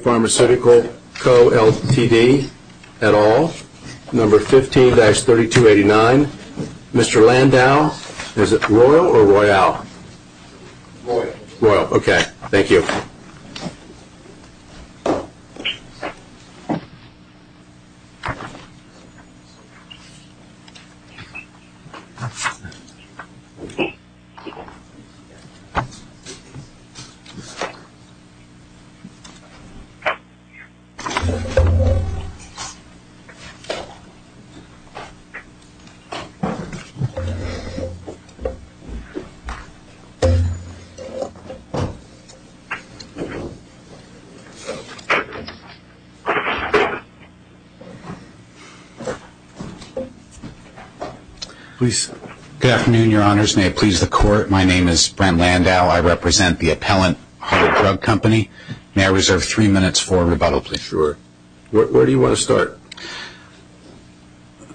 Pharmaceutical Co Ltd, et al, number 15-3289. Mr. Landau, is it Royal or Royale? Royal. Royal, okay. Thank you. Mr. Landau, is it Royal or Royale? Good afternoon, your honors. May it please the court, my name is Brent Landau. I represent the appellant of a drug company. May I reserve three minutes for rebuttal, please? Sure. Where do you want to start?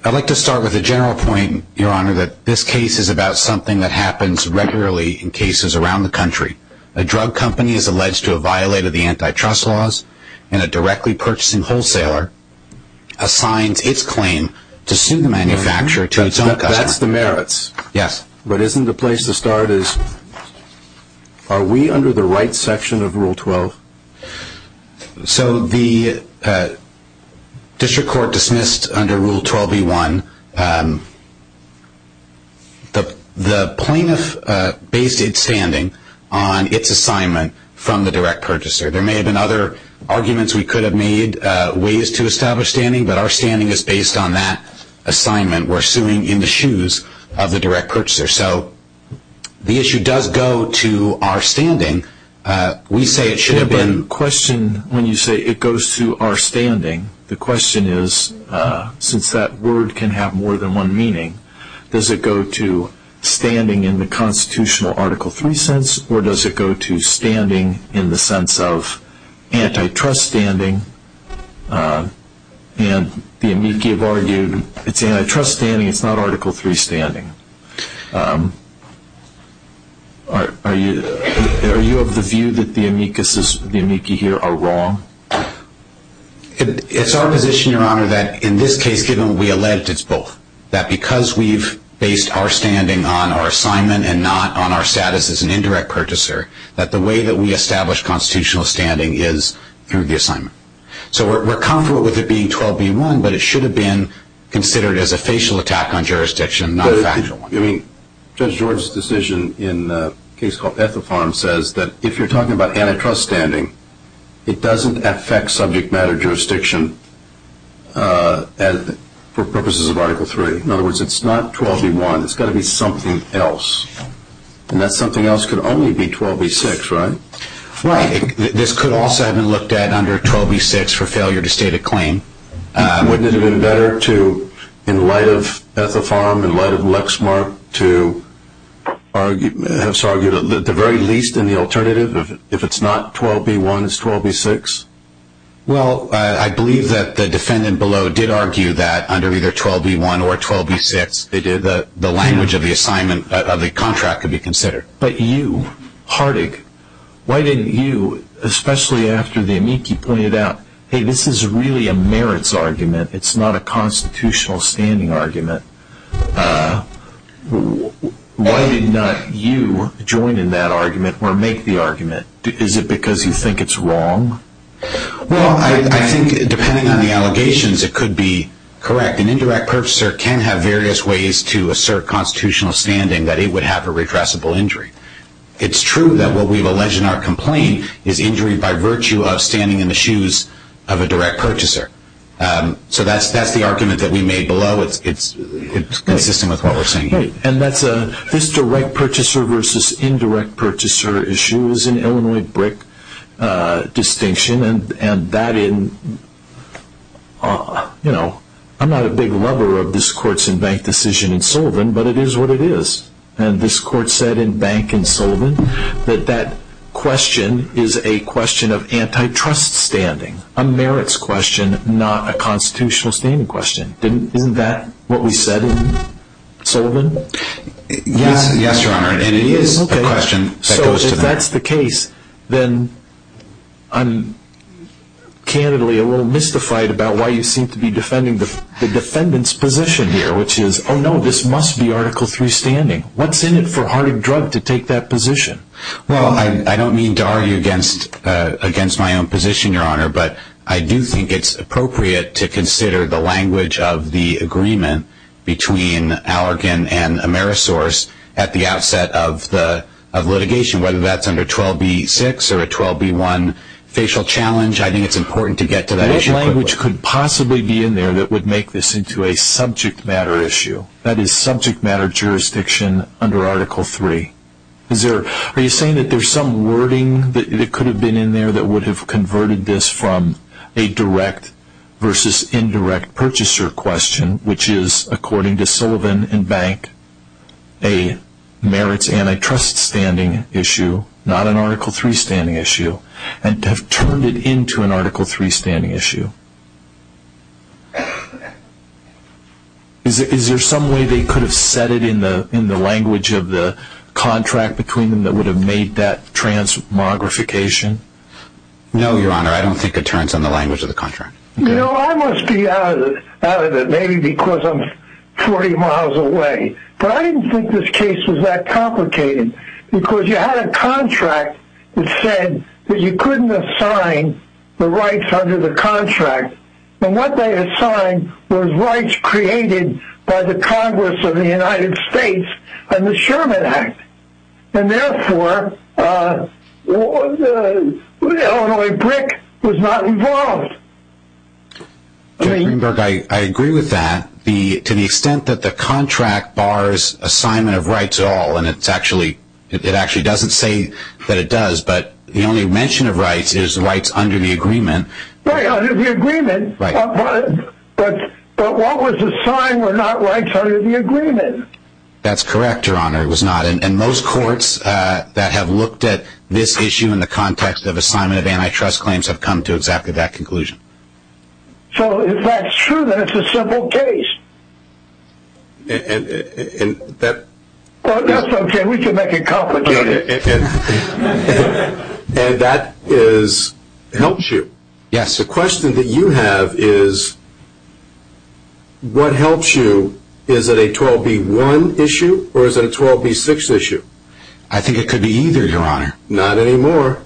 I'd like to start with a general point, your honor, that this case is about something that happens regularly in cases around the country. A drug company is alleged to have violated the antitrust laws, and a directly purchasing wholesaler assigns its claim to sue the manufacturer to its own customer. That's the merits. Yes. But isn't the place to start is, are we under the right section of Rule 12? So the district court dismissed under Rule 12e1, the plaintiff based its standing on its assignment from the direct purchaser. There may have been other arguments we could have made, ways to establish standing, but our standing is based on that assignment. We're suing in the shoes of the direct purchaser. So the issue does go to our standing. We say it should have been... Yeah, but the question, when you say it goes to our standing, the question is, since that word can have more than one meaning, does it go to standing in the constitutional Article 3 sense, or does it go to standing in the sense of antitrust standing? And the amici have argued, it's antitrust standing, it's not Article 3 standing. Are you of the view that the amicuses, the amici here, are wrong? It's our position, Your Honor, that in this case, given what we allege, it's both. That because we've based our standing on our assignment and not on our status as an indirect purchaser, that the way that we establish constitutional standing is through the assignment. So we're comfortable with it being 12b-1, but it should have been considered as a facial attack on jurisdiction, not a factual one. I mean, Judge Jordan's decision in a case called Ethelfarm says that if you're talking about antitrust standing, it doesn't affect subject matter jurisdiction for purposes of Article 3. In other words, it's not 12b-1, it's got to be something else. And that something else could only be 12b-6, right? Right. This could also have been looked at under 12b-6 for failure to state a claim. Wouldn't it have been better to, in light of Ethelfarm, in light of Lexmark, to have argued at the very least in the alternative, if it's not 12b-1, it's 12b-6? Well, I believe that the defendant below did argue that under either 12b-1 or 12b-6, the language of the assignment of the contract could be considered. But you, Hartig, why didn't you, especially after the amici pointed out, hey, this is really a merits argument, it's not a constitutional standing argument, why did not you join in that argument or make the argument? Is it because you think it's wrong? Well, I think, depending on the allegations, it could be correct. An indirect purchaser can have various ways to assert constitutional standing that it would have a redressable injury. It's true that what we've alleged in our complaint is injury by virtue of standing in the shoes of a direct purchaser. So that's the argument that we made below. It's consistent with what we're saying here. This direct purchaser versus indirect purchaser issue is an Illinois BRIC distinction. I'm not a big lover of this court's in-bank decision in Sullivan, but it is what it is. And this court said in bank in Sullivan that that question is a question of antitrust standing, a merits question, not a constitutional standing question. Isn't that what we said in Sullivan? Yes, Your Honor, and it is a question that goes to that. So if that's the case, then I'm candidly a little mystified about why you seem to be defending the defendant's position here, which is, oh no, this must be Article III standing. What's in it for Harding Drug to take that position? Well, I don't mean to argue against my own position, Your Honor, but I do think it's appropriate to consider the language of the agreement between Allergan and Amerisource at the outset of litigation, whether that's under 12b-6 or a 12b-1 facial challenge. I think it's important to get to that issue quickly. What language could possibly be in there that would make this into a subject matter issue? That is subject matter jurisdiction under Article III. Are you saying that there's some wording that could have been in there that would have converted this from a direct versus indirect purchaser question, which is, according to Sullivan and Bank, a merits antitrust standing issue, not an Article III standing issue, and have turned it into an Article III standing issue? Is there some way they could have said it in the language of the contract between them that would have made that transmogrification? No, Your Honor, I don't think it turns in the language of the contract. You know, I must be out of it, maybe because I'm 40 miles away, but I didn't think this case was that complicated, because you had a contract that said that you couldn't assign the rights under the contract, and what they assigned was rights created by the Congress of the United States and the Sherman Act. And therefore, Illinois BRIC was not involved. Judge Greenberg, I agree with that to the extent that the contract bars assignment of rights at all, and it actually doesn't say that it does, but the only mention of rights is rights under the agreement. Right, under the agreement, but what was assigned were not rights under the agreement. That's correct, Your Honor, it was not, and most courts that have looked at this issue in the context of assignment of antitrust claims have come to exactly that conclusion. So if that's true, then it's a simple case. And that... Well, that's okay, we can make it complicated. And that helps you. Yes. The question that you have is, what helps you? Is it a 12b-1 issue, or is it a 12b-6 issue? I think it could be either, Your Honor. Not anymore.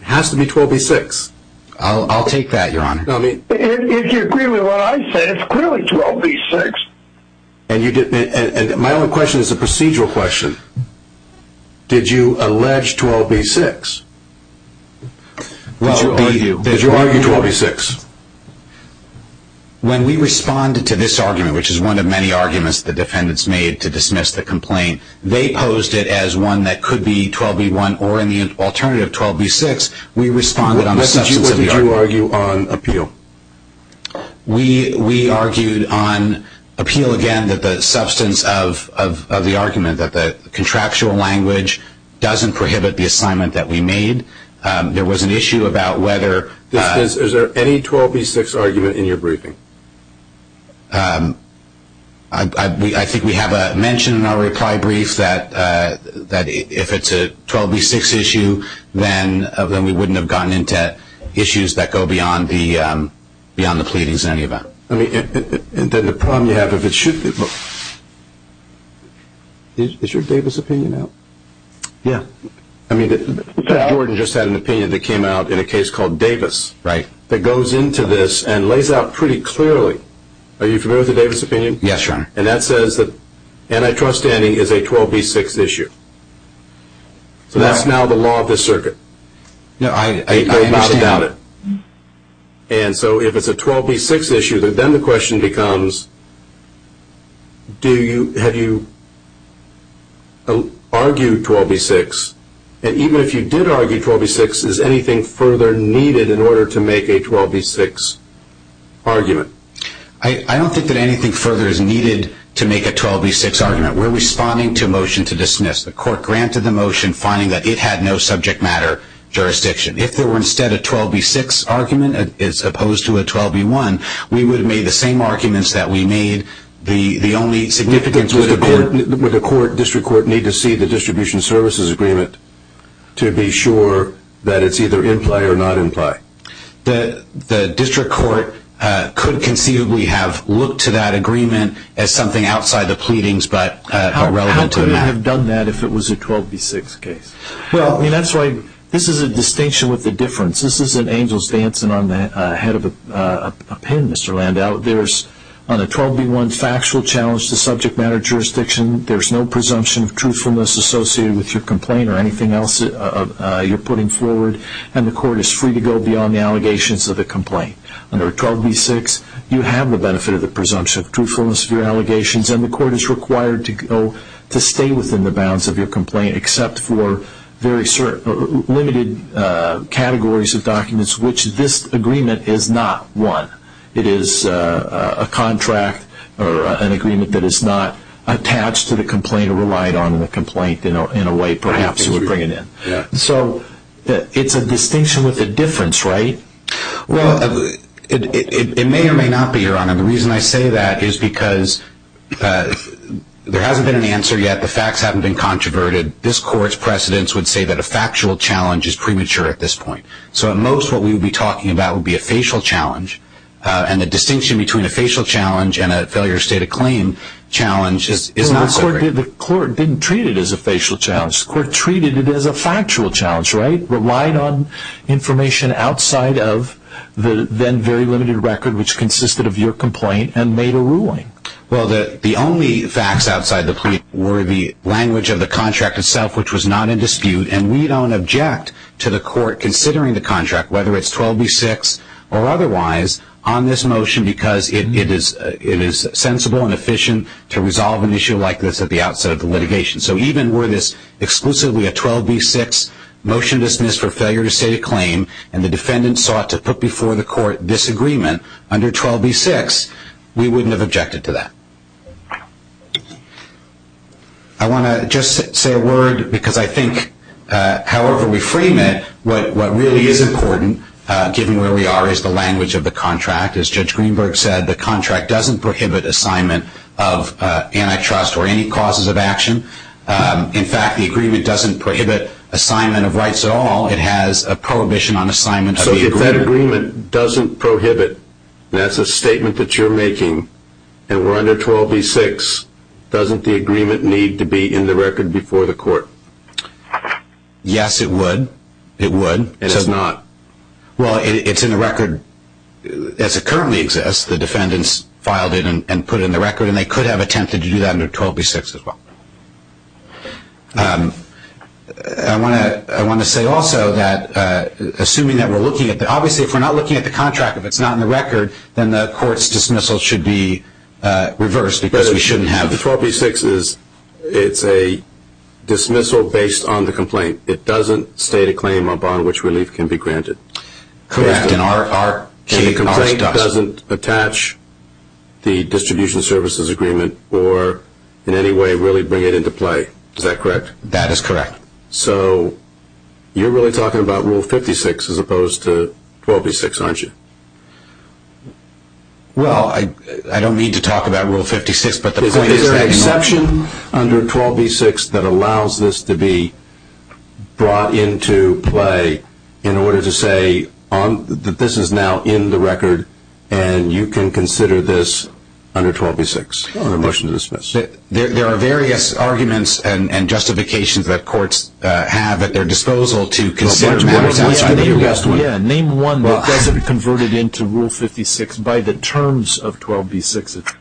It has to be 12b-6. I'll take that, Your Honor. If you agree with what I said, it's clearly 12b-6. And my only question is a procedural question. Did you allege 12b-6? Did you argue 12b-6? When we responded to this argument, which is one of many arguments the defendants made to dismiss the complaint, they posed it as one that could be 12b-1 or, in the alternative, 12b-6. What message did you argue on appeal? We argued on appeal, again, that the substance of the argument, that the contractual language doesn't prohibit the assignment that we made. There was an issue about whether ---- Is there any 12b-6 argument in your briefing? I think we have a mention in our reply brief that if it's a 12b-6 issue, then we wouldn't have gotten into issues that go beyond the pleadings in any event. Then the problem you have, if it should be ---- Is your Davis opinion out? Yeah. I mean, Mr. Jordan just had an opinion that came out in a case called Davis that goes into this and lays out pretty clearly. Are you familiar with the Davis opinion? Yes, Your Honor. And that says that antitrust standing is a 12b-6 issue. So that's now the law of this circuit. I understand. I do not doubt it. And so if it's a 12b-6 issue, then the question becomes, have you argued 12b-6? And even if you did argue 12b-6, is anything further needed in order to make a 12b-6 argument? I don't think that anything further is needed to make a 12b-6 argument. We're responding to a motion to dismiss. The court granted the motion finding that it had no subject matter jurisdiction. If there were instead a 12b-6 argument as opposed to a 12b-1, we would have made the same arguments that we made. The only significance would have been ---- Would the district court need to see the distribution services agreement to be sure that it's either in play or not in play? The district court could conceivably have looked to that agreement as something outside the pleadings but irrelevant to that. How could it have done that if it was a 12b-6 case? That's right. This is a distinction with a difference. This isn't angels dancing on the head of a pin, Mr. Landau. On a 12b-1 factual challenge to subject matter jurisdiction, there's no presumption of truthfulness associated with your complaint or anything else you're putting forward, and the court is free to go beyond the allegations of a complaint. Under a 12b-6, you have the benefit of the presumption of truthfulness of your allegations, and the court is required to stay within the bounds of your complaint except for very limited categories of documents which this agreement is not one. It is a contract or an agreement that is not attached to the complaint or relied on in the complaint in a way perhaps it would bring it in. So it's a distinction with a difference, right? Well, it may or may not be, Your Honor. The reason I say that is because there hasn't been an answer yet. The facts haven't been controverted. This court's precedents would say that a factual challenge is premature at this point. So at most what we would be talking about would be a facial challenge, and the distinction between a facial challenge and a failure state of claim challenge is not so great. The court didn't treat it as a facial challenge. The court treated it as a factual challenge, right? Relying on information outside of the then very limited record which consisted of your complaint and made a ruling. Well, the only facts outside the plea were the language of the contract itself, which was not in dispute, and we don't object to the court considering the contract, whether it's 12b-6 or otherwise, on this motion because it is sensible and efficient to resolve an issue like this at the outset of the litigation. So even were this exclusively a 12b-6 motion dismissed for failure to state a claim and the defendant sought to put before the court this agreement under 12b-6, we wouldn't have objected to that. I want to just say a word because I think however we frame it, what really is important, given where we are, is the language of the contract. As Judge Greenberg said, the contract doesn't prohibit assignment of antitrust or any causes of action. In fact, the agreement doesn't prohibit assignment of rights at all. It has a prohibition on assignment of the agreement. The agreement doesn't prohibit, and that's a statement that you're making, and we're under 12b-6, doesn't the agreement need to be in the record before the court? Yes, it would. It would. And it's not? Well, it's in the record as it currently exists. The defendants filed it and put it in the record, and they could have attempted to do that under 12b-6 as well. I want to say also that assuming that we're looking at that, obviously if we're not looking at the contract, if it's not in the record, then the court's dismissal should be reversed because we shouldn't have. The 12b-6 is a dismissal based on the complaint. It doesn't state a claim upon which relief can be granted. Correct. And the complaint doesn't attach the distribution services agreement or in any way really bring it into play. Is that correct? That is correct. So you're really talking about Rule 56 as opposed to 12b-6, aren't you? Well, I don't mean to talk about Rule 56, but the point is that no. Is there an exception under 12b-6 that allows this to be brought into play in order to say that this is now in the record and you can consider this under 12b-6 on a motion to dismiss? There are various arguments and justifications that courts have at their disposal to consider matters outside of the U.S. Name one that doesn't convert it into Rule 56 by the terms of 12b-6.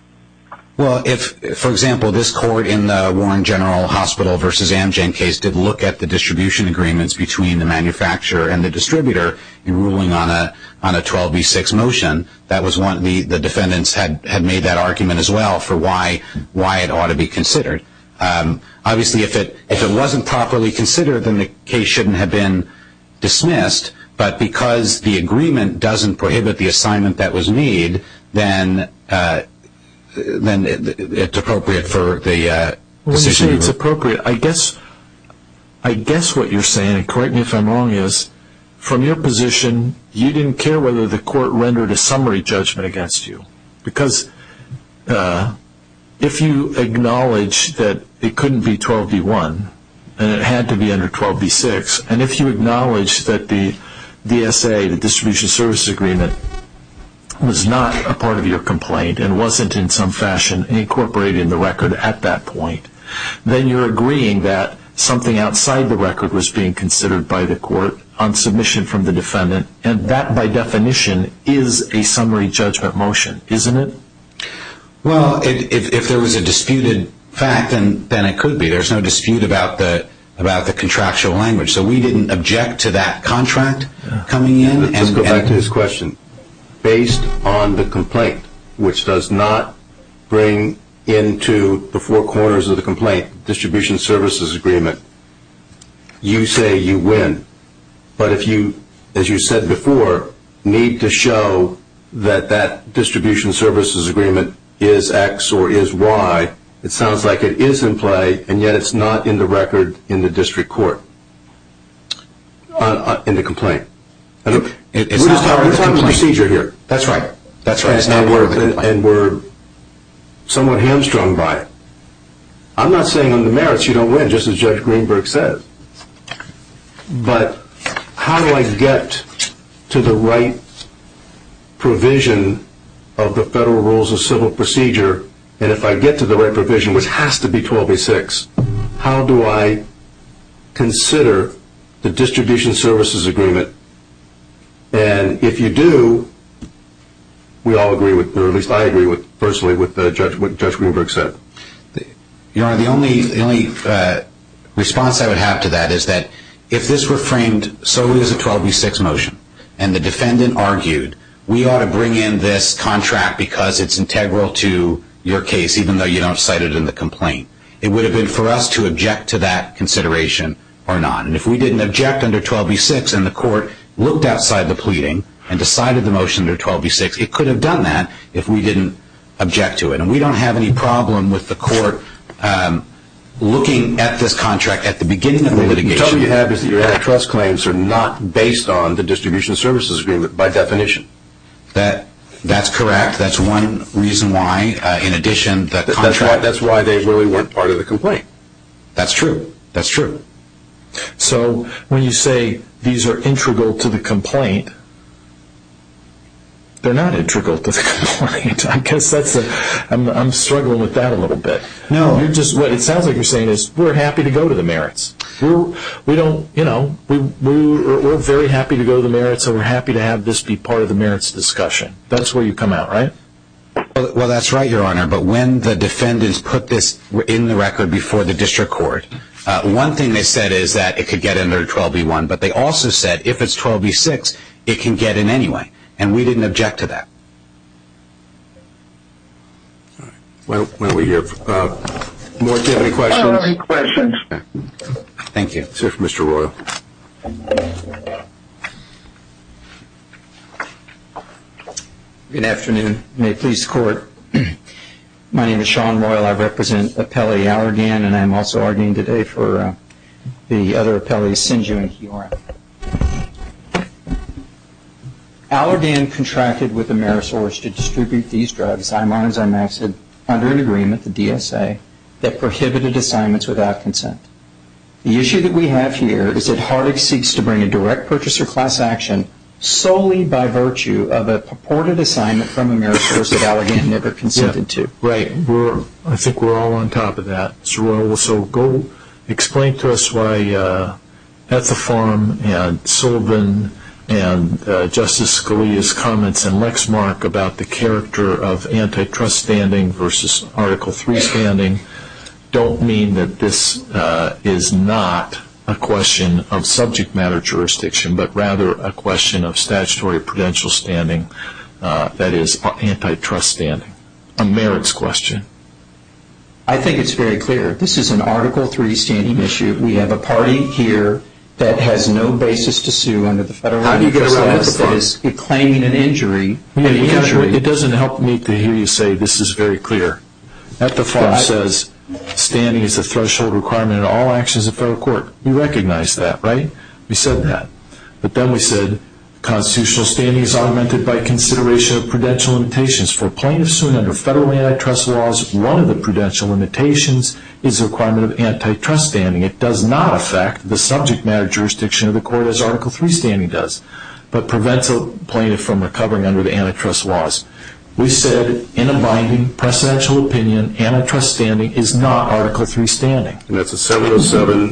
Well, if, for example, this court in the Warren General Hospital v. Amgen case did look at the distribution agreements between the manufacturer and the distributor in ruling on a 12b-6 motion, the defendants had made that argument as well for why it ought to be considered. Obviously, if it wasn't properly considered, then the case shouldn't have been dismissed, but because the agreement doesn't prohibit the assignment that was made, then it's appropriate for the decision to be made. You say it's appropriate. I guess what you're saying, and correct me if I'm wrong, is from your position, you didn't care whether the court rendered a summary judgment against you. Because if you acknowledge that it couldn't be 12b-1 and it had to be under 12b-6, and if you acknowledge that the DSA, the distribution services agreement, was not a part of your complaint and wasn't in some fashion incorporated in the record at that point, then you're agreeing that something outside the record was being considered by the court on submission from the defendant, and that, by definition, is a summary judgment motion, isn't it? Well, if there was a disputed fact, then it could be. There's no dispute about the contractual language. So we didn't object to that contract coming in. To go back to his question, based on the complaint, which does not bring into the four corners of the complaint distribution services agreement, you say you win. But if you, as you said before, need to show that that distribution services agreement is X or is Y, it sounds like it is in play, and yet it's not in the record in the district court, in the complaint. We're talking procedure here. That's right. And we're somewhat hamstrung by it. I'm not saying on the merits you don't win, just as Judge Greenberg said. But how do I get to the right provision of the federal rules of civil procedure, and if I get to the right provision, which has to be 12b-6, how do I consider the distribution services agreement? And if you do, we all agree, or at least I agree, personally, with what Judge Greenberg said. Your Honor, the only response I would have to that is that if this were framed solely as a 12b-6 motion and the defendant argued we ought to bring in this contract because it's integral to your case, even though you don't cite it in the complaint, it would have been for us to object to that consideration or not. And if we didn't object under 12b-6 and the court looked outside the pleading and decided the motion under 12b-6, it could have done that if we didn't object to it. And we don't have any problem with the court looking at this contract at the beginning of the litigation. The trouble you have is that your antitrust claims are not based on the distribution services agreement by definition. That's correct. That's one reason why. That's why they really weren't part of the complaint. That's true. So when you say these are integral to the complaint, they're not integral to the complaint. I guess I'm struggling with that a little bit. No. What it sounds like you're saying is we're happy to go to the merits. We're very happy to go to the merits and we're happy to have this be part of the merits discussion. That's where you come out, right? Well, that's right, Your Honor. But when the defendants put this in the record before the district court, one thing they said is that it could get under 12b-1. But they also said if it's 12b-6, it can get in anyway. And we didn't object to that. All right. Why don't we give more questions? Thank you. Let's hear from Mr. Royal. Good afternoon. May it please the Court. My name is Sean Royal. I represent Appellee Allergan, and I'm also arguing today for the other appellees, Sinju and Quirin. Allergan contracted with Amerisource to distribute these drugs, I-1 and I-max, under an agreement, the DSA, that prohibited assignments without consent. The issue that we have here is that Harding seeks to bring a direct purchaser class action solely by virtue of a purported assignment from Amerisource that Allergan never consented to. Right. I think we're all on top of that, Mr. Royal. So go explain to us why Ethafarm and Sullivan and Justice Scalia's comments and Lexmark about the character of antitrust standing versus Article III standing don't mean that this is not a question of subject matter jurisdiction, but rather a question of statutory prudential standing, that is, antitrust standing. A merits question. I think it's very clear. This is an Article III standing issue. We have a party here that has no basis to sue under the Federal Uniform Status. How do you get around Ethafarm? It's claiming an injury. It doesn't help me to hear you say this is very clear. Ethafarm says standing is a threshold requirement in all actions of federal court. We recognize that, right? We said that. But then we said constitutional standing is augmented by consideration of prudential limitations. For plaintiffs sued under federal antitrust laws, one of the prudential limitations is the requirement of antitrust standing. It does not affect the subject matter jurisdiction of the court as Article III standing does, but prevents a plaintiff from recovering under the antitrust laws. We said in abiding presidential opinion, antitrust standing is not Article III standing. And that's a 707,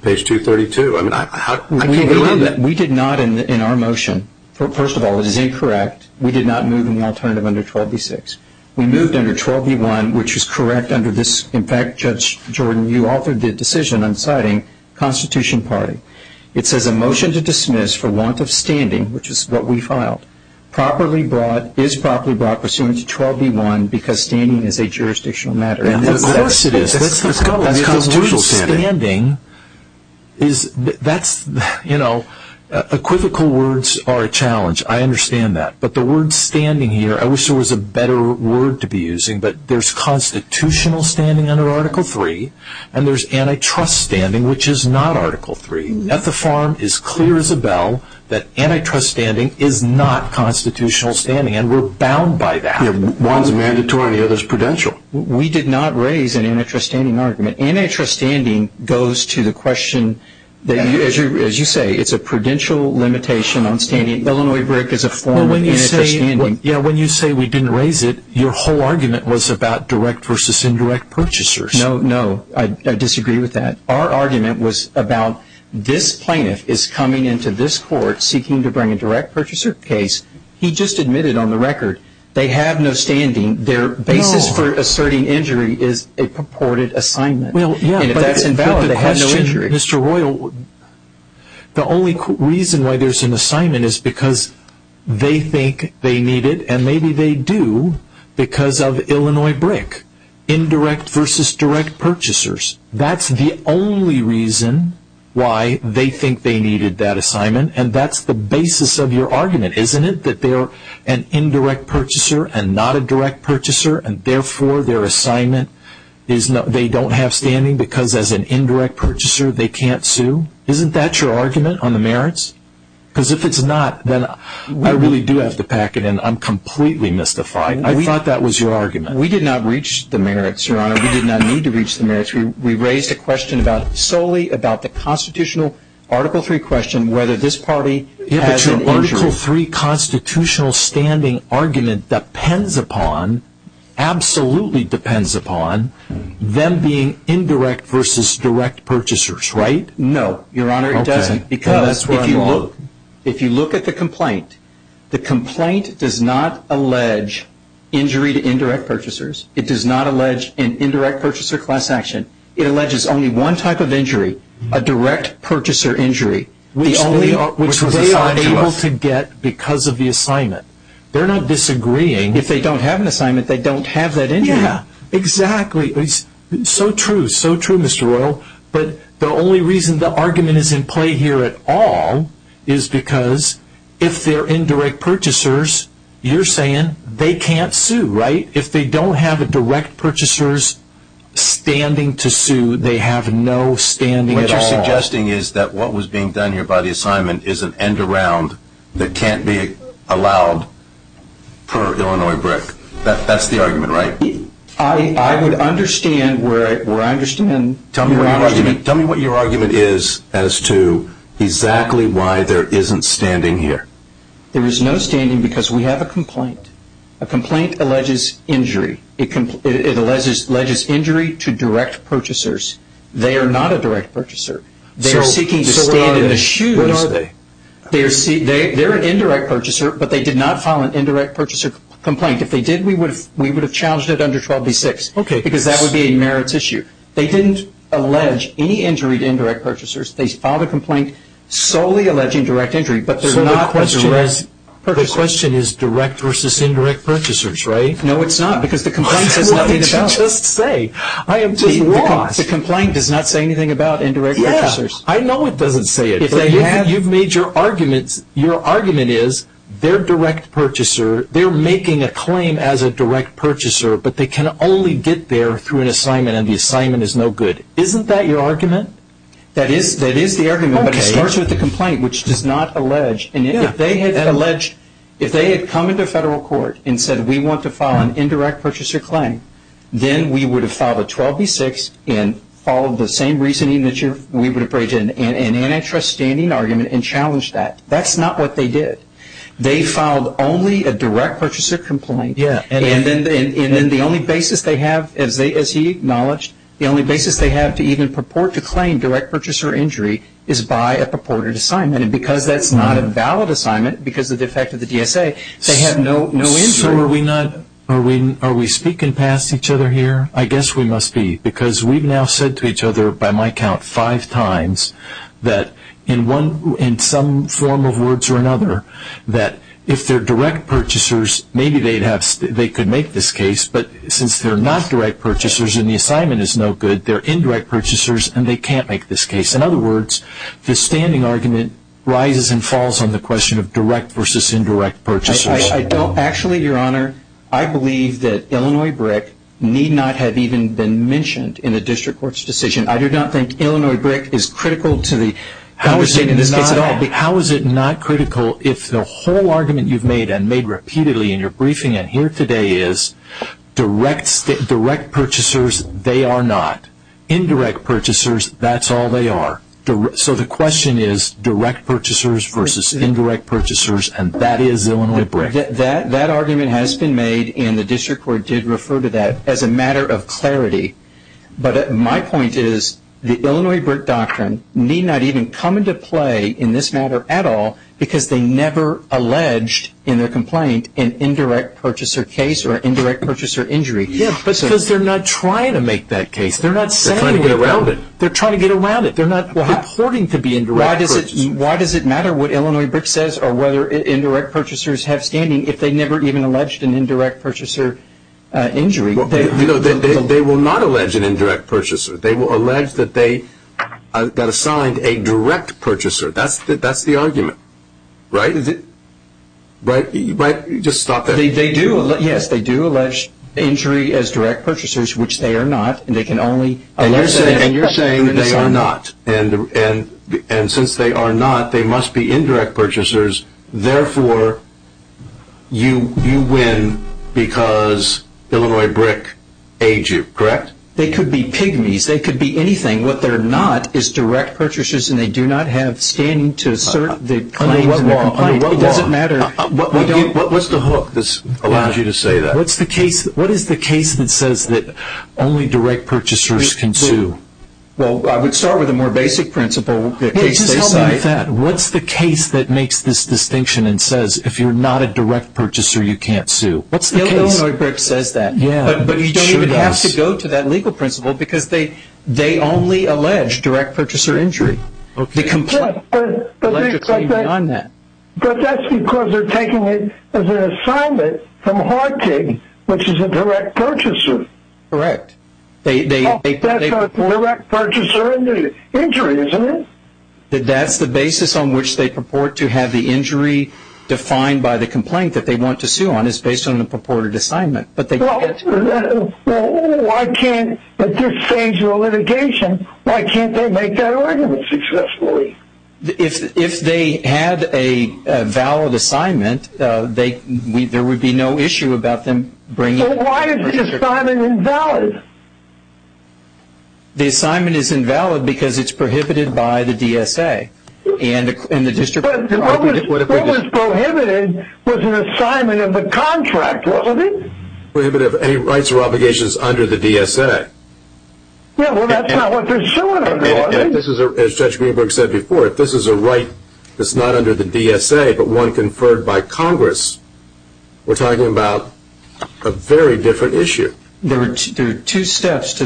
page 232. We did not in our motion, first of all, it is incorrect. We did not move an alternative under 12b-6. We moved under 12b-1, which is correct under this. In fact, Judge Jordan, you authored the decision on citing Constitution Party. It says a motion to dismiss for want of standing, which is what we filed, properly brought, is properly brought pursuant to 12b-1 because standing is a jurisdictional matter. Of course it is. That's constitutional standing. Equivocal words are a challenge. I understand that. But the word standing here, I wish there was a better word to be using, but there's constitutional standing under Article III, and there's antitrust standing, which is not Article III. At the farm, it's clear as a bell that antitrust standing is not constitutional standing, and we're bound by that. One's mandatory and the other's prudential. We did not raise an antitrust standing argument. Antitrust standing goes to the question, as you say, it's a prudential limitation on standing. Illinois brick is a form of antitrust standing. When you say we didn't raise it, your whole argument was about direct versus indirect purchasers. No, no, I disagree with that. Our argument was about this plaintiff is coming into this court seeking to bring a direct purchaser case. He just admitted on the record they have no standing. Their basis for asserting injury is a purported assignment. And if that's invalid, they have no injury. Mr. Royal, the only reason why there's an assignment is because they think they need it, and maybe they do because of Illinois brick. Indirect versus direct purchasers. That's the only reason why they think they needed that assignment, and that's the basis of your argument, isn't it? That they're an indirect purchaser and not a direct purchaser, and therefore their assignment is they don't have standing because as an indirect purchaser they can't sue? Isn't that your argument on the merits? Because if it's not, then I really do have to pack it in. I'm completely mystified. I thought that was your argument. We did not reach the merits, Your Honor. We did not need to reach the merits. We raised a question solely about the constitutional Article 3 question, whether this party has an injury. Article 3 constitutional standing argument depends upon, absolutely depends upon, them being indirect versus direct purchasers, right? No, Your Honor, it doesn't. Because if you look at the complaint, the complaint does not allege injury to indirect purchasers. It does not allege an indirect purchaser class action. It alleges only one type of injury, a direct purchaser injury, which they are unable to get because of the assignment. They're not disagreeing. If they don't have an assignment, they don't have that injury. Yeah, exactly. So true, so true, Mr. Royal. But the only reason the argument is in play here at all is because if they're indirect purchasers, you're saying they can't sue, right? If they don't have direct purchasers standing to sue, they have no standing at all. What you're suggesting is that what was being done here by the assignment is an end-around that can't be allowed per Illinois BRIC. That's the argument, right? I would understand where I understand your argument. Tell me what your argument is as to exactly why there isn't standing here. There is no standing because we have a complaint. A complaint alleges injury. It alleges injury to direct purchasers. They are not a direct purchaser. They are seeking to stand in the shoes. So what are they? They're an indirect purchaser, but they did not file an indirect purchaser complaint. If they did, we would have challenged it under 12B-6 because that would be a merits issue. They didn't allege any injury to indirect purchasers. They filed a complaint solely alleging direct injury, but they're not a direct purchaser. The question is direct versus indirect purchasers, right? No, it's not because the complaint says nothing about it. What did you just say? I am just lost. The complaint does not say anything about indirect purchasers. I know it doesn't say it, but you've made your arguments. Your argument is they're a direct purchaser. They're making a claim as a direct purchaser, but they can only get there through an assignment, and the assignment is no good. Isn't that your argument? That is the argument, but it starts with the complaint, which does not allege. If they had come into federal court and said, we want to file an indirect purchaser claim, then we would have filed a 12B-6 and followed the same reasoning that we would have brought in an antitrust standing argument and challenged that. That's not what they did. They filed only a direct purchaser complaint, and then the only basis they have, as he acknowledged, the only basis they have to even purport to claim direct purchaser injury is by a purported assignment, and because that's not a valid assignment, because of the effect of the DSA, they have no injury. So are we speaking past each other here? I guess we must be, because we've now said to each other, by my count, five times that in some form of words or another, that if they're direct purchasers, maybe they could make this case, but since they're not direct purchasers and the assignment is no good, they're indirect purchasers and they can't make this case. In other words, the standing argument rises and falls on the question of direct versus indirect purchasers. Actually, Your Honor, I believe that Illinois BRIC need not have even been mentioned in a district court's decision. I do not think Illinois BRIC is critical to the conversation in this case at all. How is it not critical if the whole argument you've made and made repeatedly in your briefing and here today is direct purchasers, they are not. Indirect purchasers, that's all they are. So the question is direct purchasers versus indirect purchasers, and that is Illinois BRIC. That argument has been made and the district court did refer to that as a matter of clarity, but my point is the Illinois BRIC doctrine need not even come into play in this matter at all because they never alleged in their complaint an indirect purchaser case or indirect purchaser injury. Because they're not trying to make that case. They're not saying it. They're trying to get around it. They're trying to get around it. They're not reporting to be indirect purchasers. Why does it matter what Illinois BRIC says or whether indirect purchasers have standing if they never even alleged an indirect purchaser injury? They will not allege an indirect purchaser. They will allege that they got assigned a direct purchaser. That's the argument, right? Just stop that. Yes, they do allege injury as direct purchasers, which they are not, and they can only allege that. And you're saying they are not. And since they are not, they must be indirect purchasers. Therefore, you win because Illinois BRIC aids you, correct? They could be pygmies. They could be anything. What they're not is direct purchasers, and they do not have standing to assert the claims. Under what law? Under what law? It doesn't matter. What's the hook that allows you to say that? What is the case that says that only direct purchasers can sue? Well, I would start with a more basic principle. Just help me with that. What's the case that makes this distinction and says if you're not a direct purchaser, you can't sue? What's the case? Illinois BRIC says that. Yeah, it sure does. But you don't even have to go to that legal principle because they only allege direct purchaser injury. Okay. But that's because they're taking it as an assignment from Hartig, which is a direct purchaser. Correct. That's a direct purchaser injury, isn't it? That's the basis on which they purport to have the injury defined by the complaint that they want to sue on is based on the purported assignment. Well, why can't at this stage of a litigation, why can't they make that argument successfully? If they had a valid assignment, there would be no issue about them bringing it to the district. Well, why is the assignment invalid? The assignment is invalid because it's prohibited by the DSA. What was prohibited was an assignment of the contract. What was it? Prohibitive of any rights or obligations under the DSA. Well, that's not what they're doing. As Judge Greenberg said before, if this is a right that's not under the DSA but one conferred by Congress, we're talking about a very different issue. There are two steps to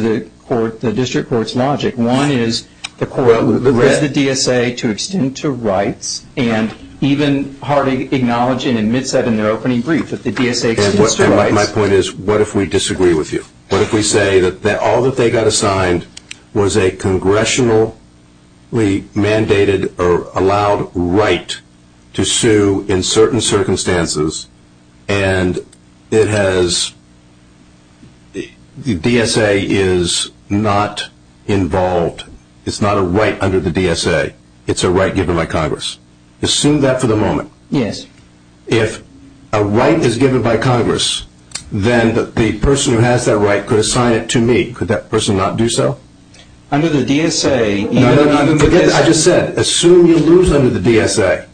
the district court's logic. One is the court requests the DSA to extend to rights, and even hardly acknowledge and admit that in their opening brief that the DSA extends to rights. My point is what if we disagree with you? What if we say that all that they got assigned was a congressionally mandated or allowed right to sue in certain circumstances and the DSA is not involved, it's not a right under the DSA, it's a right given by Congress. Assume that for the moment. Yes. If a right is given by Congress, then the person who has that right could assign it to me. Could that person not do so? Under the DSA... I just said assume you lose under the DSA.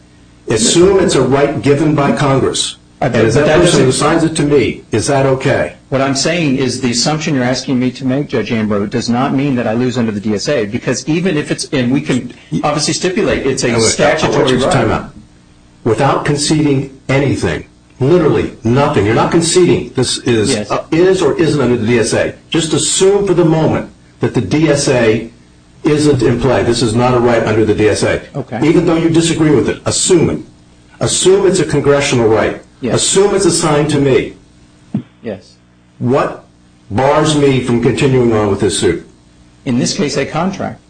Assume it's a right given by Congress. If that person assigns it to me, is that okay? What I'm saying is the assumption you're asking me to make, Judge Ambrose, does not mean that I lose under the DSA and we can obviously stipulate it's a statutory right. Without conceding anything, literally nothing, you're not conceding this is or isn't under the DSA. Just assume for the moment that the DSA isn't in play, this is not a right under the DSA. Even though you disagree with it, assume it. Assume it's a congressional right. Assume it's assigned to me. What bars me from continuing on with this suit? In this case, a contract.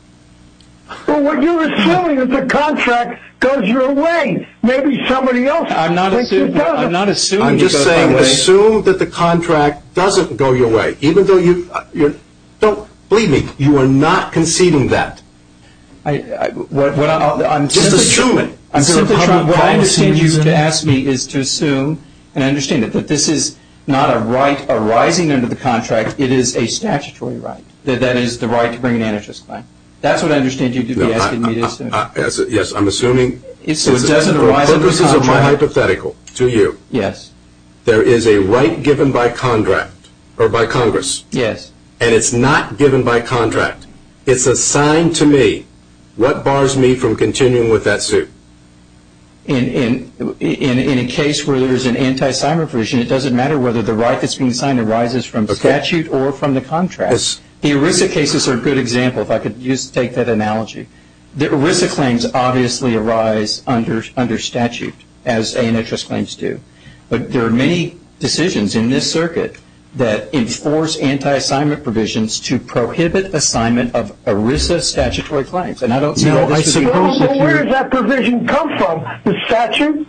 Well, what you're assuming is the contract goes your way. Maybe somebody else thinks it doesn't. I'm not assuming it goes my way. I'm just saying assume that the contract doesn't go your way. Don't believe me. You are not conceding that. I'm just assuming. What I understand you to ask me is to assume, and I understand it, that this is not a right arising under the contract. It is a statutory right. That that is the right to bring an antitrust claim. That's what I understand you to be asking me to assume. Yes, I'm assuming. It doesn't arise under the contract. This is my hypothetical to you. Yes. There is a right given by contract or by Congress. Yes. And it's not given by contract. It's assigned to me. What bars me from continuing with that suit? In a case where there is an anti-assignment provision, it doesn't matter whether the right that's being assigned arises from statute or from the contract. The ERISA cases are a good example, if I could just take that analogy. The ERISA claims obviously arise under statute, as antitrust claims do. But there are many decisions in this circuit that enforce anti-assignment provisions to prohibit assignment of ERISA statutory claims. Where does that provision come from? The statute?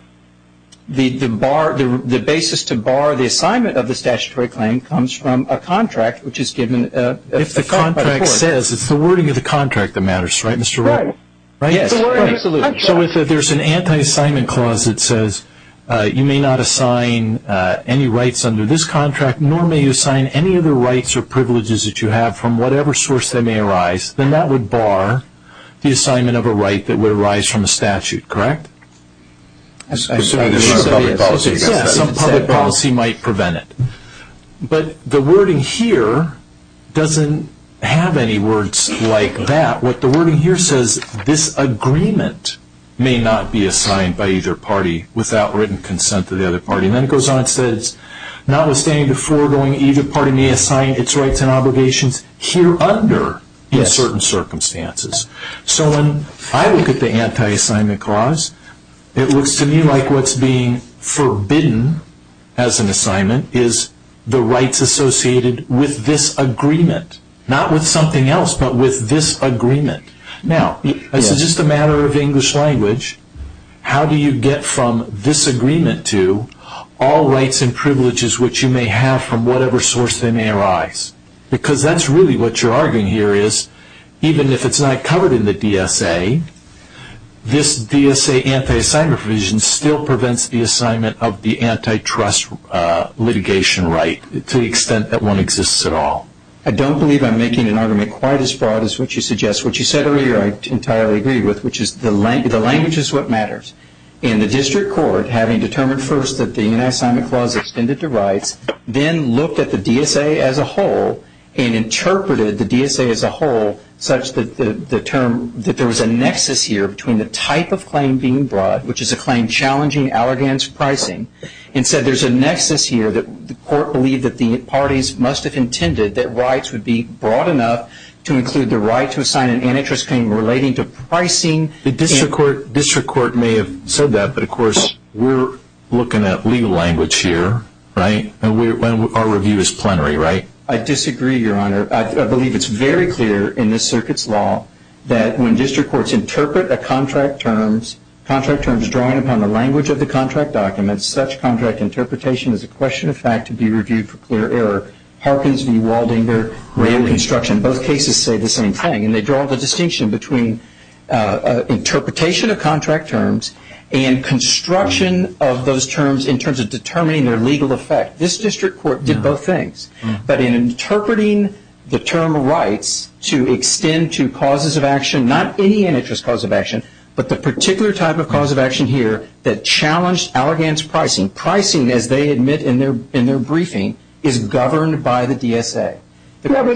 The basis to bar the assignment of the statutory claim comes from a contract which is given. If the contract says, it's the wording of the contract that matters, right, Mr. Wright? Right. Yes, absolutely. So if there's an anti-assignment clause that says you may not assign any rights under this contract, nor may you assign any other rights or privileges that you have from whatever source that may arise, then that would bar the assignment of a right that would arise from a statute, correct? Some public policy might prevent it. But the wording here doesn't have any words like that. What the wording here says, this agreement may not be assigned by either party without written consent of the other party. And then it goes on and says, notwithstanding the foregoing, either party may assign its rights and obligations here under in certain circumstances. So when I look at the anti-assignment clause, it looks to me like what's being forbidden as an assignment is the rights associated with this agreement. Not with something else, but with this agreement. Now, this is just a matter of English language. How do you get from this agreement to all rights and privileges which you may have from whatever source they may arise? Because that's really what you're arguing here is, even if it's not covered in the DSA, this DSA anti-assignment provision still prevents the assignment of the antitrust litigation right to the extent that one exists at all. I don't believe I'm making an argument quite as broad as what you suggest. What you said earlier I entirely agree with, which is the language is what matters. And the district court, having determined first that the anti-assignment clause extended to rights, then looked at the DSA as a whole and interpreted the DSA as a whole, such that there was a nexus here between the type of claim being brought, which is a claim challenging allegance pricing, and said there's a nexus here that the court believed that the parties must have intended that rights would be broad enough to include the right to assign an antitrust claim relating to pricing. The district court may have said that, but of course we're looking at legal language here, right? And our review is plenary, right? I disagree, Your Honor. I believe it's very clear in this circuit's law that when district courts interpret a contract terms, contract terms drawing upon the language of the contract documents, such contract interpretation is a question of fact to be reviewed for clear error. Harkins v. Waldinger, rail construction, both cases say the same thing. And they draw the distinction between interpretation of contract terms and construction of those terms in terms of determining their legal effect. This district court did both things. But in interpreting the term rights to extend to causes of action, not any antitrust cause of action, but the particular type of cause of action here that challenged allegance pricing, as they admit in their briefing, is governed by the DSA. But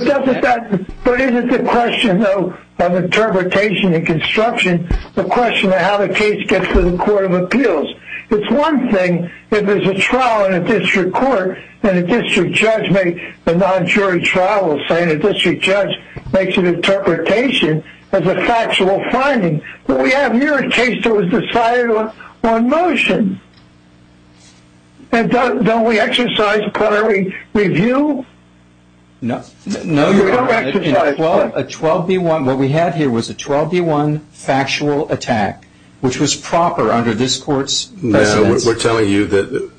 isn't the question, though, of interpretation and construction, the question of how the case gets to the court of appeals. It's one thing if there's a trial in a district court and a district judge makes a non-jury trial saying a district judge makes an interpretation as a factual finding. But we have here a case that was decided on motion. And don't we exercise a prior review? No. No, Your Honor. We don't exercise. A 12B1, what we had here was a 12B1 factual attack, which was proper under this court's precedence. No, we're telling you that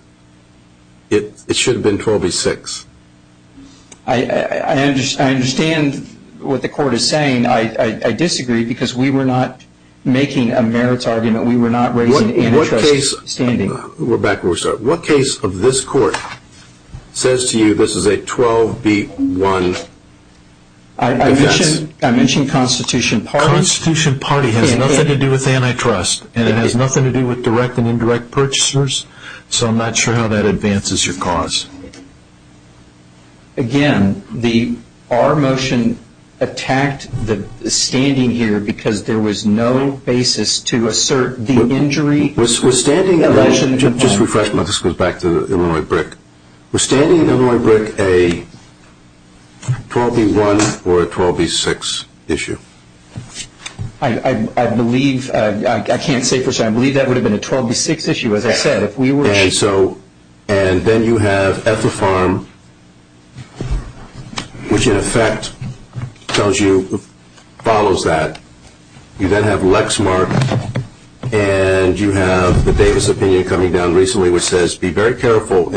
it should have been 12B6. I understand what the court is saying. I disagree because we were not making a merits argument. We were not raising antitrust standing. Rebecca, what case of this court says to you this is a 12B1 offense? I mentioned Constitution Party. Constitution Party has nothing to do with antitrust, and it has nothing to do with direct and indirect purchasers, so I'm not sure how that advances your cause. Again, our motion attacked the standing here because there was no basis to assert the injury. Just a refreshment. This goes back to Illinois BRIC. Was standing in Illinois BRIC a 12B1 or a 12B6 issue? I can't say for certain. I believe that would have been a 12B6 issue, as I said. And then you have Ethelfarm, which in effect follows that. You then have Lexmark, and you have the Davis opinion coming down recently, which says be very careful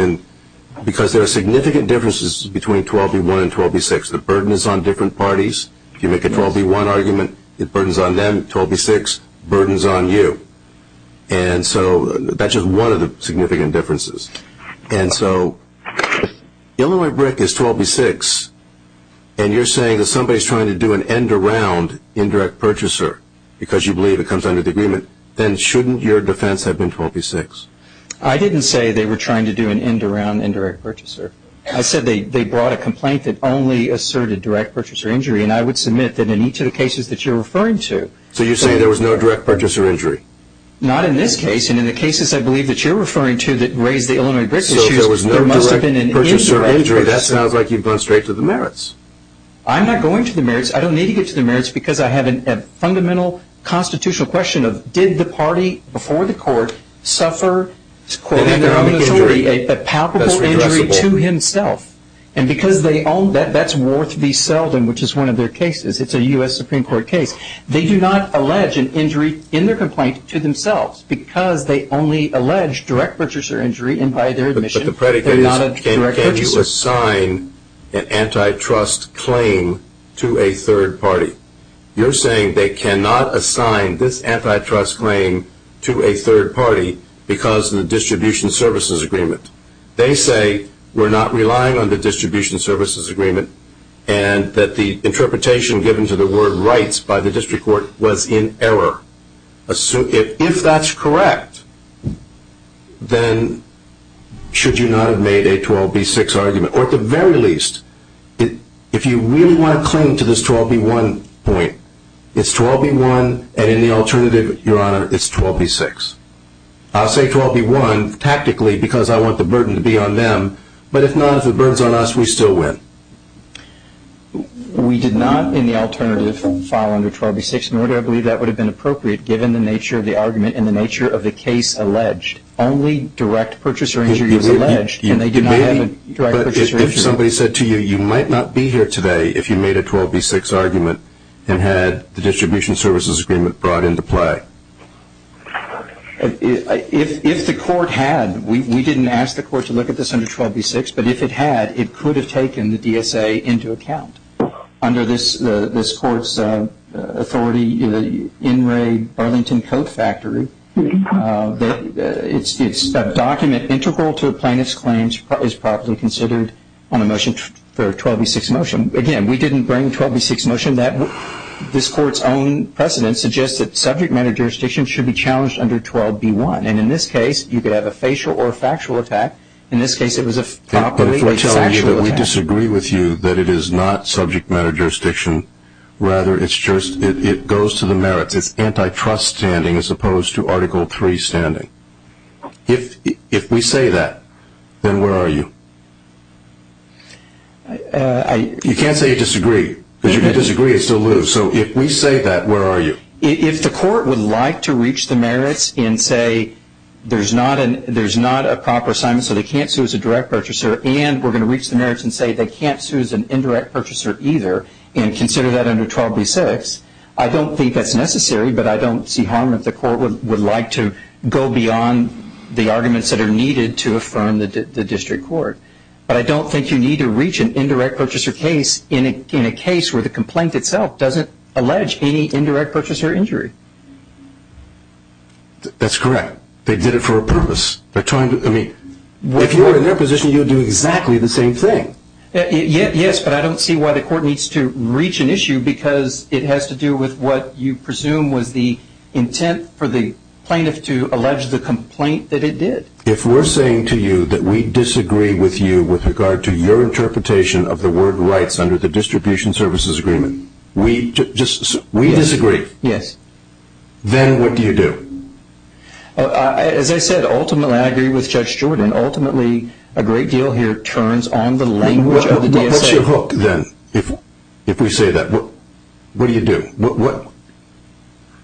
because there are significant differences between 12B1 and 12B6. The burden is on different parties. If you make a 12B1 argument, the burden is on them. 12B6, the burden is on you. And so that's just one of the significant differences. And so Illinois BRIC is 12B6, and you're saying that somebody is trying to do an end-around indirect purchaser because you believe it comes under the agreement, then shouldn't your defense have been 12B6? I didn't say they were trying to do an end-around indirect purchaser. I said they brought a complaint that only asserted direct purchaser injury, and I would submit that in each of the cases that you're referring to. So you're saying there was no direct purchaser injury? Not in this case. And in the cases, I believe, that you're referring to that raise the Illinois BRIC issue, there must have been an indirect purchaser injury. That sounds like you've gone straight to the merits. I'm not going to the merits. I don't need to get to the merits because I have a fundamental constitutional question of, did the party before the court suffer, quote, in their own authority, a palpable injury to himself? And because they own that, that's worth the Selden, which is one of their cases. It's a U.S. Supreme Court case. They do not allege an injury in their complaint to themselves because they only allege direct purchaser injury and by their admission they're not a direct purchaser. But the predicate is can you assign an antitrust claim to a third party? You're saying they cannot assign this antitrust claim to a third party because of the distribution services agreement. They say we're not relying on the distribution services agreement and that the interpretation given to the word rights by the district court was in error. If that's correct, then should you not have made a 12B6 argument? Or at the very least, if you really want to cling to this 12B1 point, it's 12B1 and in the alternative, Your Honor, it's 12B6. I'll say 12B1 tactically because I want the burden to be on them, but if not, if the burden is on us, we still win. We did not in the alternative file under 12B6. Nor do I believe that would have been appropriate given the nature of the argument and the nature of the case alleged. Only direct purchaser injury was alleged and they did not have a direct purchaser injury. But if somebody said to you, you might not be here today if you made a 12B6 argument and had the distribution services agreement brought into play. If the court had, we didn't ask the court to look at this under 12B6, but if it had, it could have taken the DSA into account. Under this court's authority, the In Re Burlington Coat Factory, it's a document integral to a plaintiff's claims is properly considered on a motion for a 12B6 motion. Again, we didn't bring a 12B6 motion. This court's own precedent suggests that subject matter jurisdiction should be challenged under 12B1, and in this case, you could have a facial or factual attack. In this case, it was a properly factual attack. If we're telling you that we disagree with you that it is not subject matter jurisdiction, rather it goes to the merits. It's antitrust standing as opposed to Article III standing. If we say that, then where are you? You can't say you disagree, because if you disagree, it's still loose. So if we say that, where are you? If the court would like to reach the merits and say there's not a proper assignment, so they can't sue as a direct purchaser, and we're going to reach the merits and say they can't sue as an indirect purchaser either and consider that under 12B6, I don't think that's necessary, but I don't see harm if the court would like to go beyond the arguments that are needed to affirm the district court. But I don't think you need to reach an indirect purchaser case in a case where the complaint itself doesn't allege any indirect purchaser injury. That's correct. They did it for a purpose. If you were in their position, you would do exactly the same thing. Yes, but I don't see why the court needs to reach an issue, because it has to do with what you presume was the intent for the plaintiff to allege the complaint that it did. If we're saying to you that we disagree with you with regard to your interpretation of the word rights under the distribution services agreement, we disagree. Yes. Then what do you do? As I said, ultimately I agree with Judge Jordan. What's your hook then if we say that? What do you do?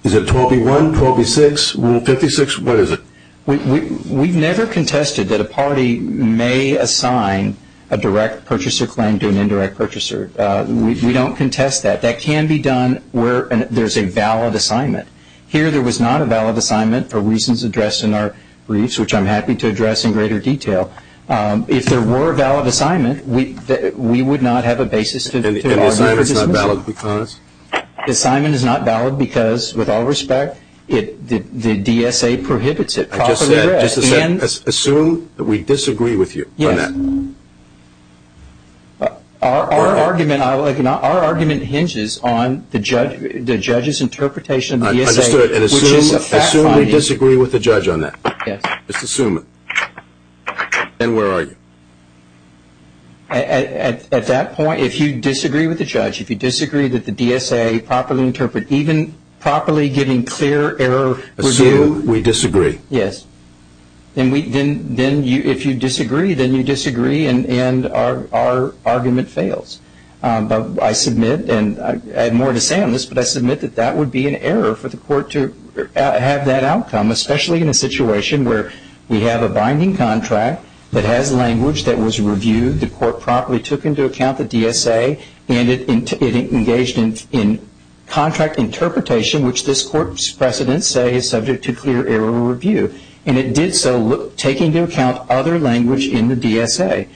Is it 12B1, 12B6, Rule 56? What is it? We've never contested that a party may assign a direct purchaser claim to an indirect purchaser. We don't contest that. That can be done where there's a valid assignment. Here there was not a valid assignment for reasons addressed in our briefs, which I'm happy to address in greater detail. If there were a valid assignment, we would not have a basis to argue for dismissal. And the assignment is not valid because? The assignment is not valid because, with all respect, the DSA prohibits it. I just said, assume that we disagree with you on that. Yes. Our argument hinges on the judge's interpretation of the DSA, which is a fact-finding. I understood. Assume we disagree with the judge on that. Yes. Just assume it. Then where are you? At that point, if you disagree with the judge, if you disagree that the DSA properly interpret, even properly giving clear error review. Assume we disagree. Yes. Then if you disagree, then you disagree, and our argument fails. I submit, and I have more to say on this, but I submit that that would be an error for the court to have that outcome, especially in a situation where we have a binding contract that has language that was reviewed, the court properly took into account the DSA, and it engaged in contract interpretation, which this court's precedents say is subject to clear error review. And it did so taking into account other language in the DSA.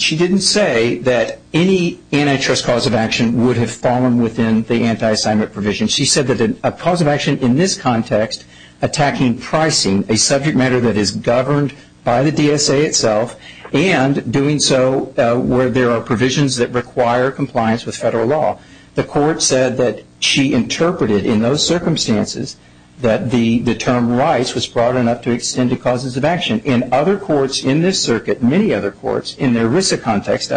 She didn't say that any antitrust cause of action would have fallen within the anti-assignment provision. She said that a cause of action in this context attacking pricing, a subject matter that is governed by the DSA itself, and doing so where there are provisions that require compliance with federal law. The court said that she interpreted in those circumstances that the term rights was broad enough to extend to causes of action. In other courts in this circuit, many other courts, in their RISA context,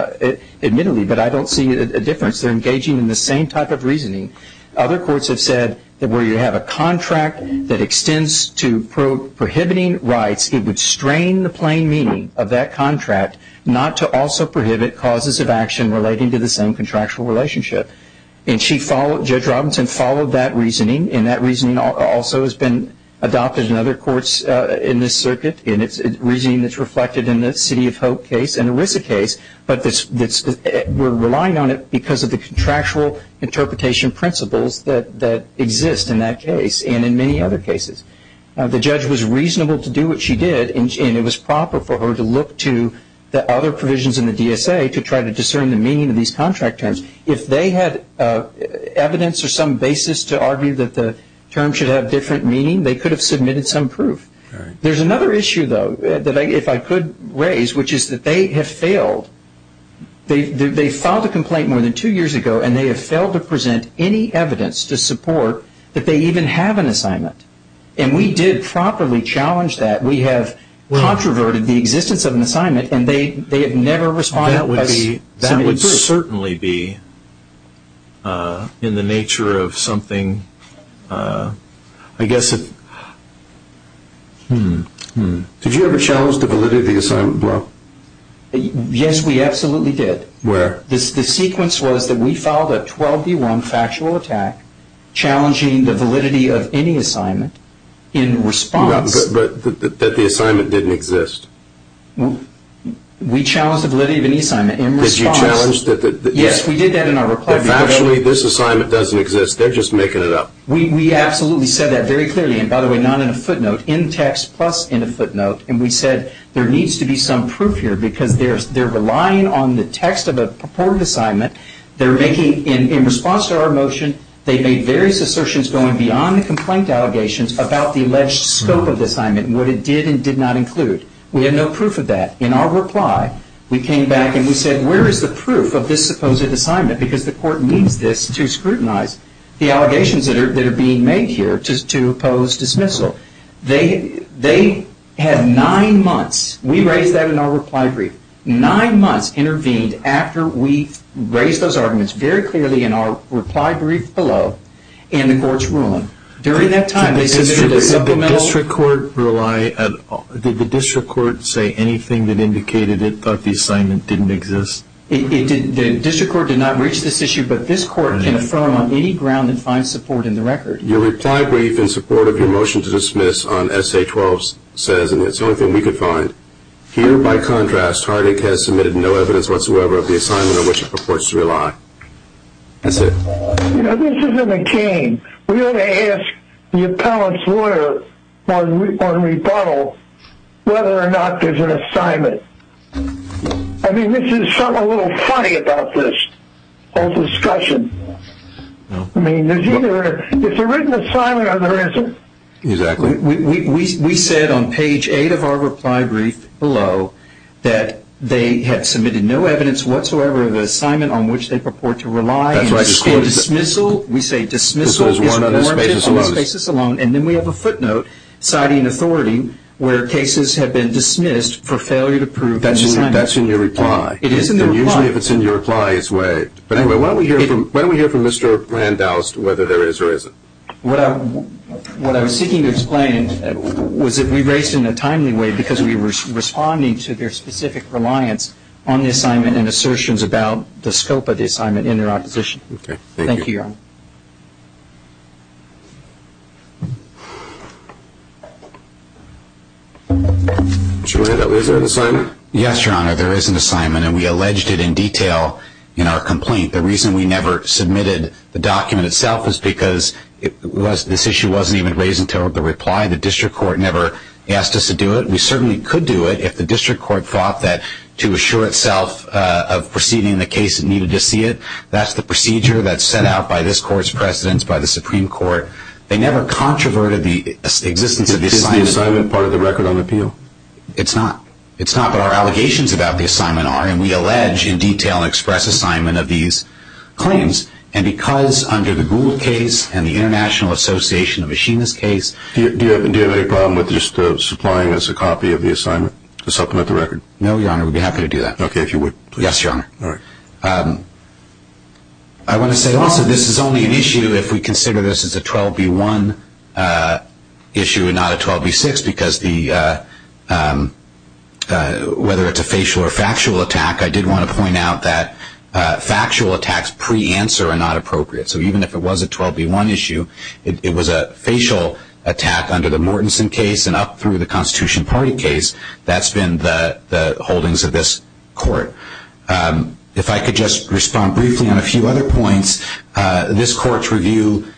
admittedly, but I don't see a difference, they're engaging in the same type of reasoning. Other courts have said that where you have a contract that extends to prohibiting rights, it would strain the plain meaning of that contract not to also prohibit causes of action relating to the same contractual relationship. And Judge Robinson followed that reasoning, and that reasoning also has been adopted in other courts in this circuit, and it's reasoning that's reflected in the City of Hope case and the RISA case, but we're relying on it because of the contractual interpretation principles that exist in that case and in many other cases. The judge was reasonable to do what she did, and it was proper for her to look to the other provisions in the DSA to try to discern the meaning of these contract terms. If they had evidence or some basis to argue that the term should have different meaning, they could have submitted some proof. There's another issue, though, that if I could raise, which is that they have failed. They filed a complaint more than two years ago, and they have failed to present any evidence to support that they even have an assignment, and we did properly challenge that. We have controverted the existence of an assignment, and they have never responded. That would certainly be in the nature of something, I guess, hmm. Did you ever challenge the validity of the assignment? Yes, we absolutely did. Where? The sequence was that we filed a 12D1 factual attack challenging the validity of any assignment in response. But that the assignment didn't exist. We challenged the validity of any assignment in response. Did you challenge that? Yes, we did that in our reply. That factually this assignment doesn't exist. They're just making it up. We absolutely said that very clearly, and by the way, not in a footnote, in text plus in a footnote, and we said there needs to be some proof here because they're relying on the text of a purported assignment. They're making, in response to our motion, what it did and did not include. We have no proof of that. In our reply, we came back and we said where is the proof of this supposed assignment because the court needs this to scrutinize the allegations that are being made here to oppose dismissal. They had nine months. We raised that in our reply brief. Nine months intervened after we raised those arguments very clearly in our reply brief below in the court's ruling. Did the district court say anything that indicated it thought the assignment didn't exist? The district court did not reach this issue, but this court can affirm on any ground and find support in the record. Your reply brief in support of your motion to dismiss on Essay 12 says, and it's the only thing we could find, here, by contrast, Hardik has submitted no evidence whatsoever of the assignment on which it purports to rely. That's it. You know, this isn't a game. We ought to ask the appellant's lawyer on rebuttal whether or not there's an assignment. I mean, this is something a little funny about this whole discussion. I mean, there's either a written assignment or there isn't. Exactly. We said on page 8 of our reply brief below that they had submitted no evidence whatsoever of the assignment on which they purport to rely. That's right. We say dismissal is warranted on this basis alone. And then we have a footnote citing authority where cases have been dismissed for failure to prove the assignment. That's in your reply. It is in the reply. And usually if it's in your reply, it's waived. But anyway, why don't we hear from Mr. Randaust whether there is or isn't? What I was seeking to explain was that we raised it in a timely way because we were responding to their specific reliance on the assignment and assertions about the scope of the assignment in their opposition. Okay. Thank you, Your Honor. Mr. Randaust, is there an assignment? Yes, Your Honor. There is an assignment, and we alleged it in detail in our complaint. The reason we never submitted the document itself is because this issue wasn't even raised until the reply. The district court never asked us to do it. We certainly could do it if the district court thought that to assure itself of proceeding in the case, it needed to see it. That's the procedure that's set out by this court's precedents, by the Supreme Court. They never controverted the existence of the assignment. Is the assignment part of the record on appeal? It's not. It's not, but our allegations about the assignment are. And we allege in detail and express assignment of these claims. And because under the Gould case and the International Association of Machinists case. Do you have any problem with just supplying us a copy of the assignment to supplement the record? No, Your Honor. We'd be happy to do that. Okay. If you would, please. Yes, Your Honor. All right. I want to say also this is only an issue if we consider this as a 12B1 issue and not a 12B6, because whether it's a facial or factual attack, I did want to point out that factual attacks pre-answer are not appropriate. So even if it was a 12B1 issue, it was a facial attack under the Mortenson case and up through the Constitution Party case. That's been the holdings of this court. If I could just respond briefly on a few other points, this court's review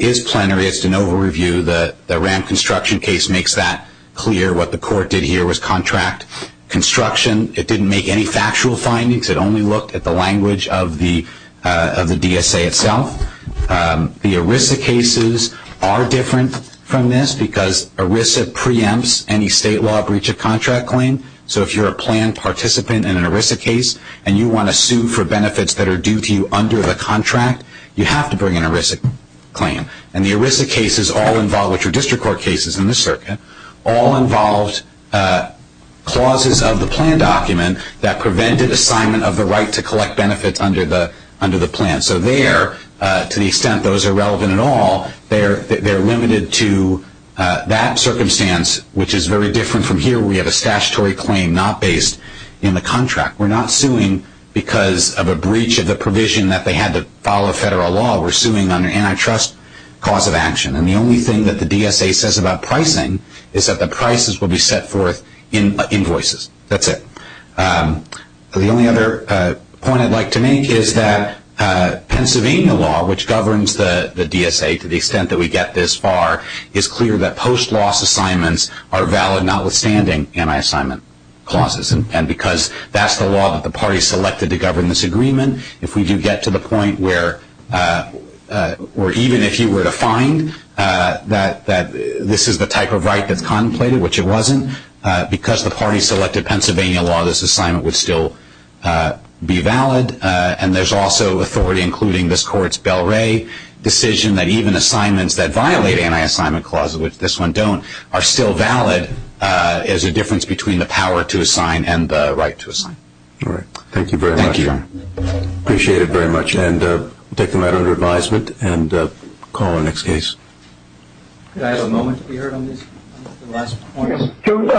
is plenary. It's de novo review. The RAM construction case makes that clear. What the court did here was contract construction. It didn't make any factual findings. It only looked at the language of the DSA itself. The ERISA cases are different from this because ERISA preempts any state law breach of contract claim. So if you're a planned participant in an ERISA case and you want to sue for benefits that are due to you under the contract, you have to bring an ERISA claim. And the ERISA cases all involve, which are district court cases in this circuit, all involved clauses of the plan document that prevented assignment of the right to collect benefits under the plan. So there, to the extent those are relevant at all, they're limited to that circumstance, which is very different from here where we have a statutory claim not based in the contract. We're not suing because of a breach of the provision that they had to follow federal law. We're suing under antitrust cause of action. And the only thing that the DSA says about pricing is that the prices will be set forth in invoices. That's it. The only other point I'd like to make is that Pennsylvania law, which governs the DSA to the extent that we get this far, is clear that post-loss assignments are valid notwithstanding anti-assignment clauses. And because that's the law that the parties selected to govern this agreement, if we do get to the point where, or even if you were to find that this is the type of right that's contemplated, which it wasn't, because the parties selected Pennsylvania law, this assignment would still be valid. And there's also authority, including this Court's Bell-Ray decision, that even assignments that violate anti-assignment clauses, which this one don't, are still valid as a difference between the power to assign and the right to assign. All right. Thank you very much. Thank you. Appreciate it very much. And we'll take the matter under advisement and call on the next case. Could I have a moment to be heard on this last point?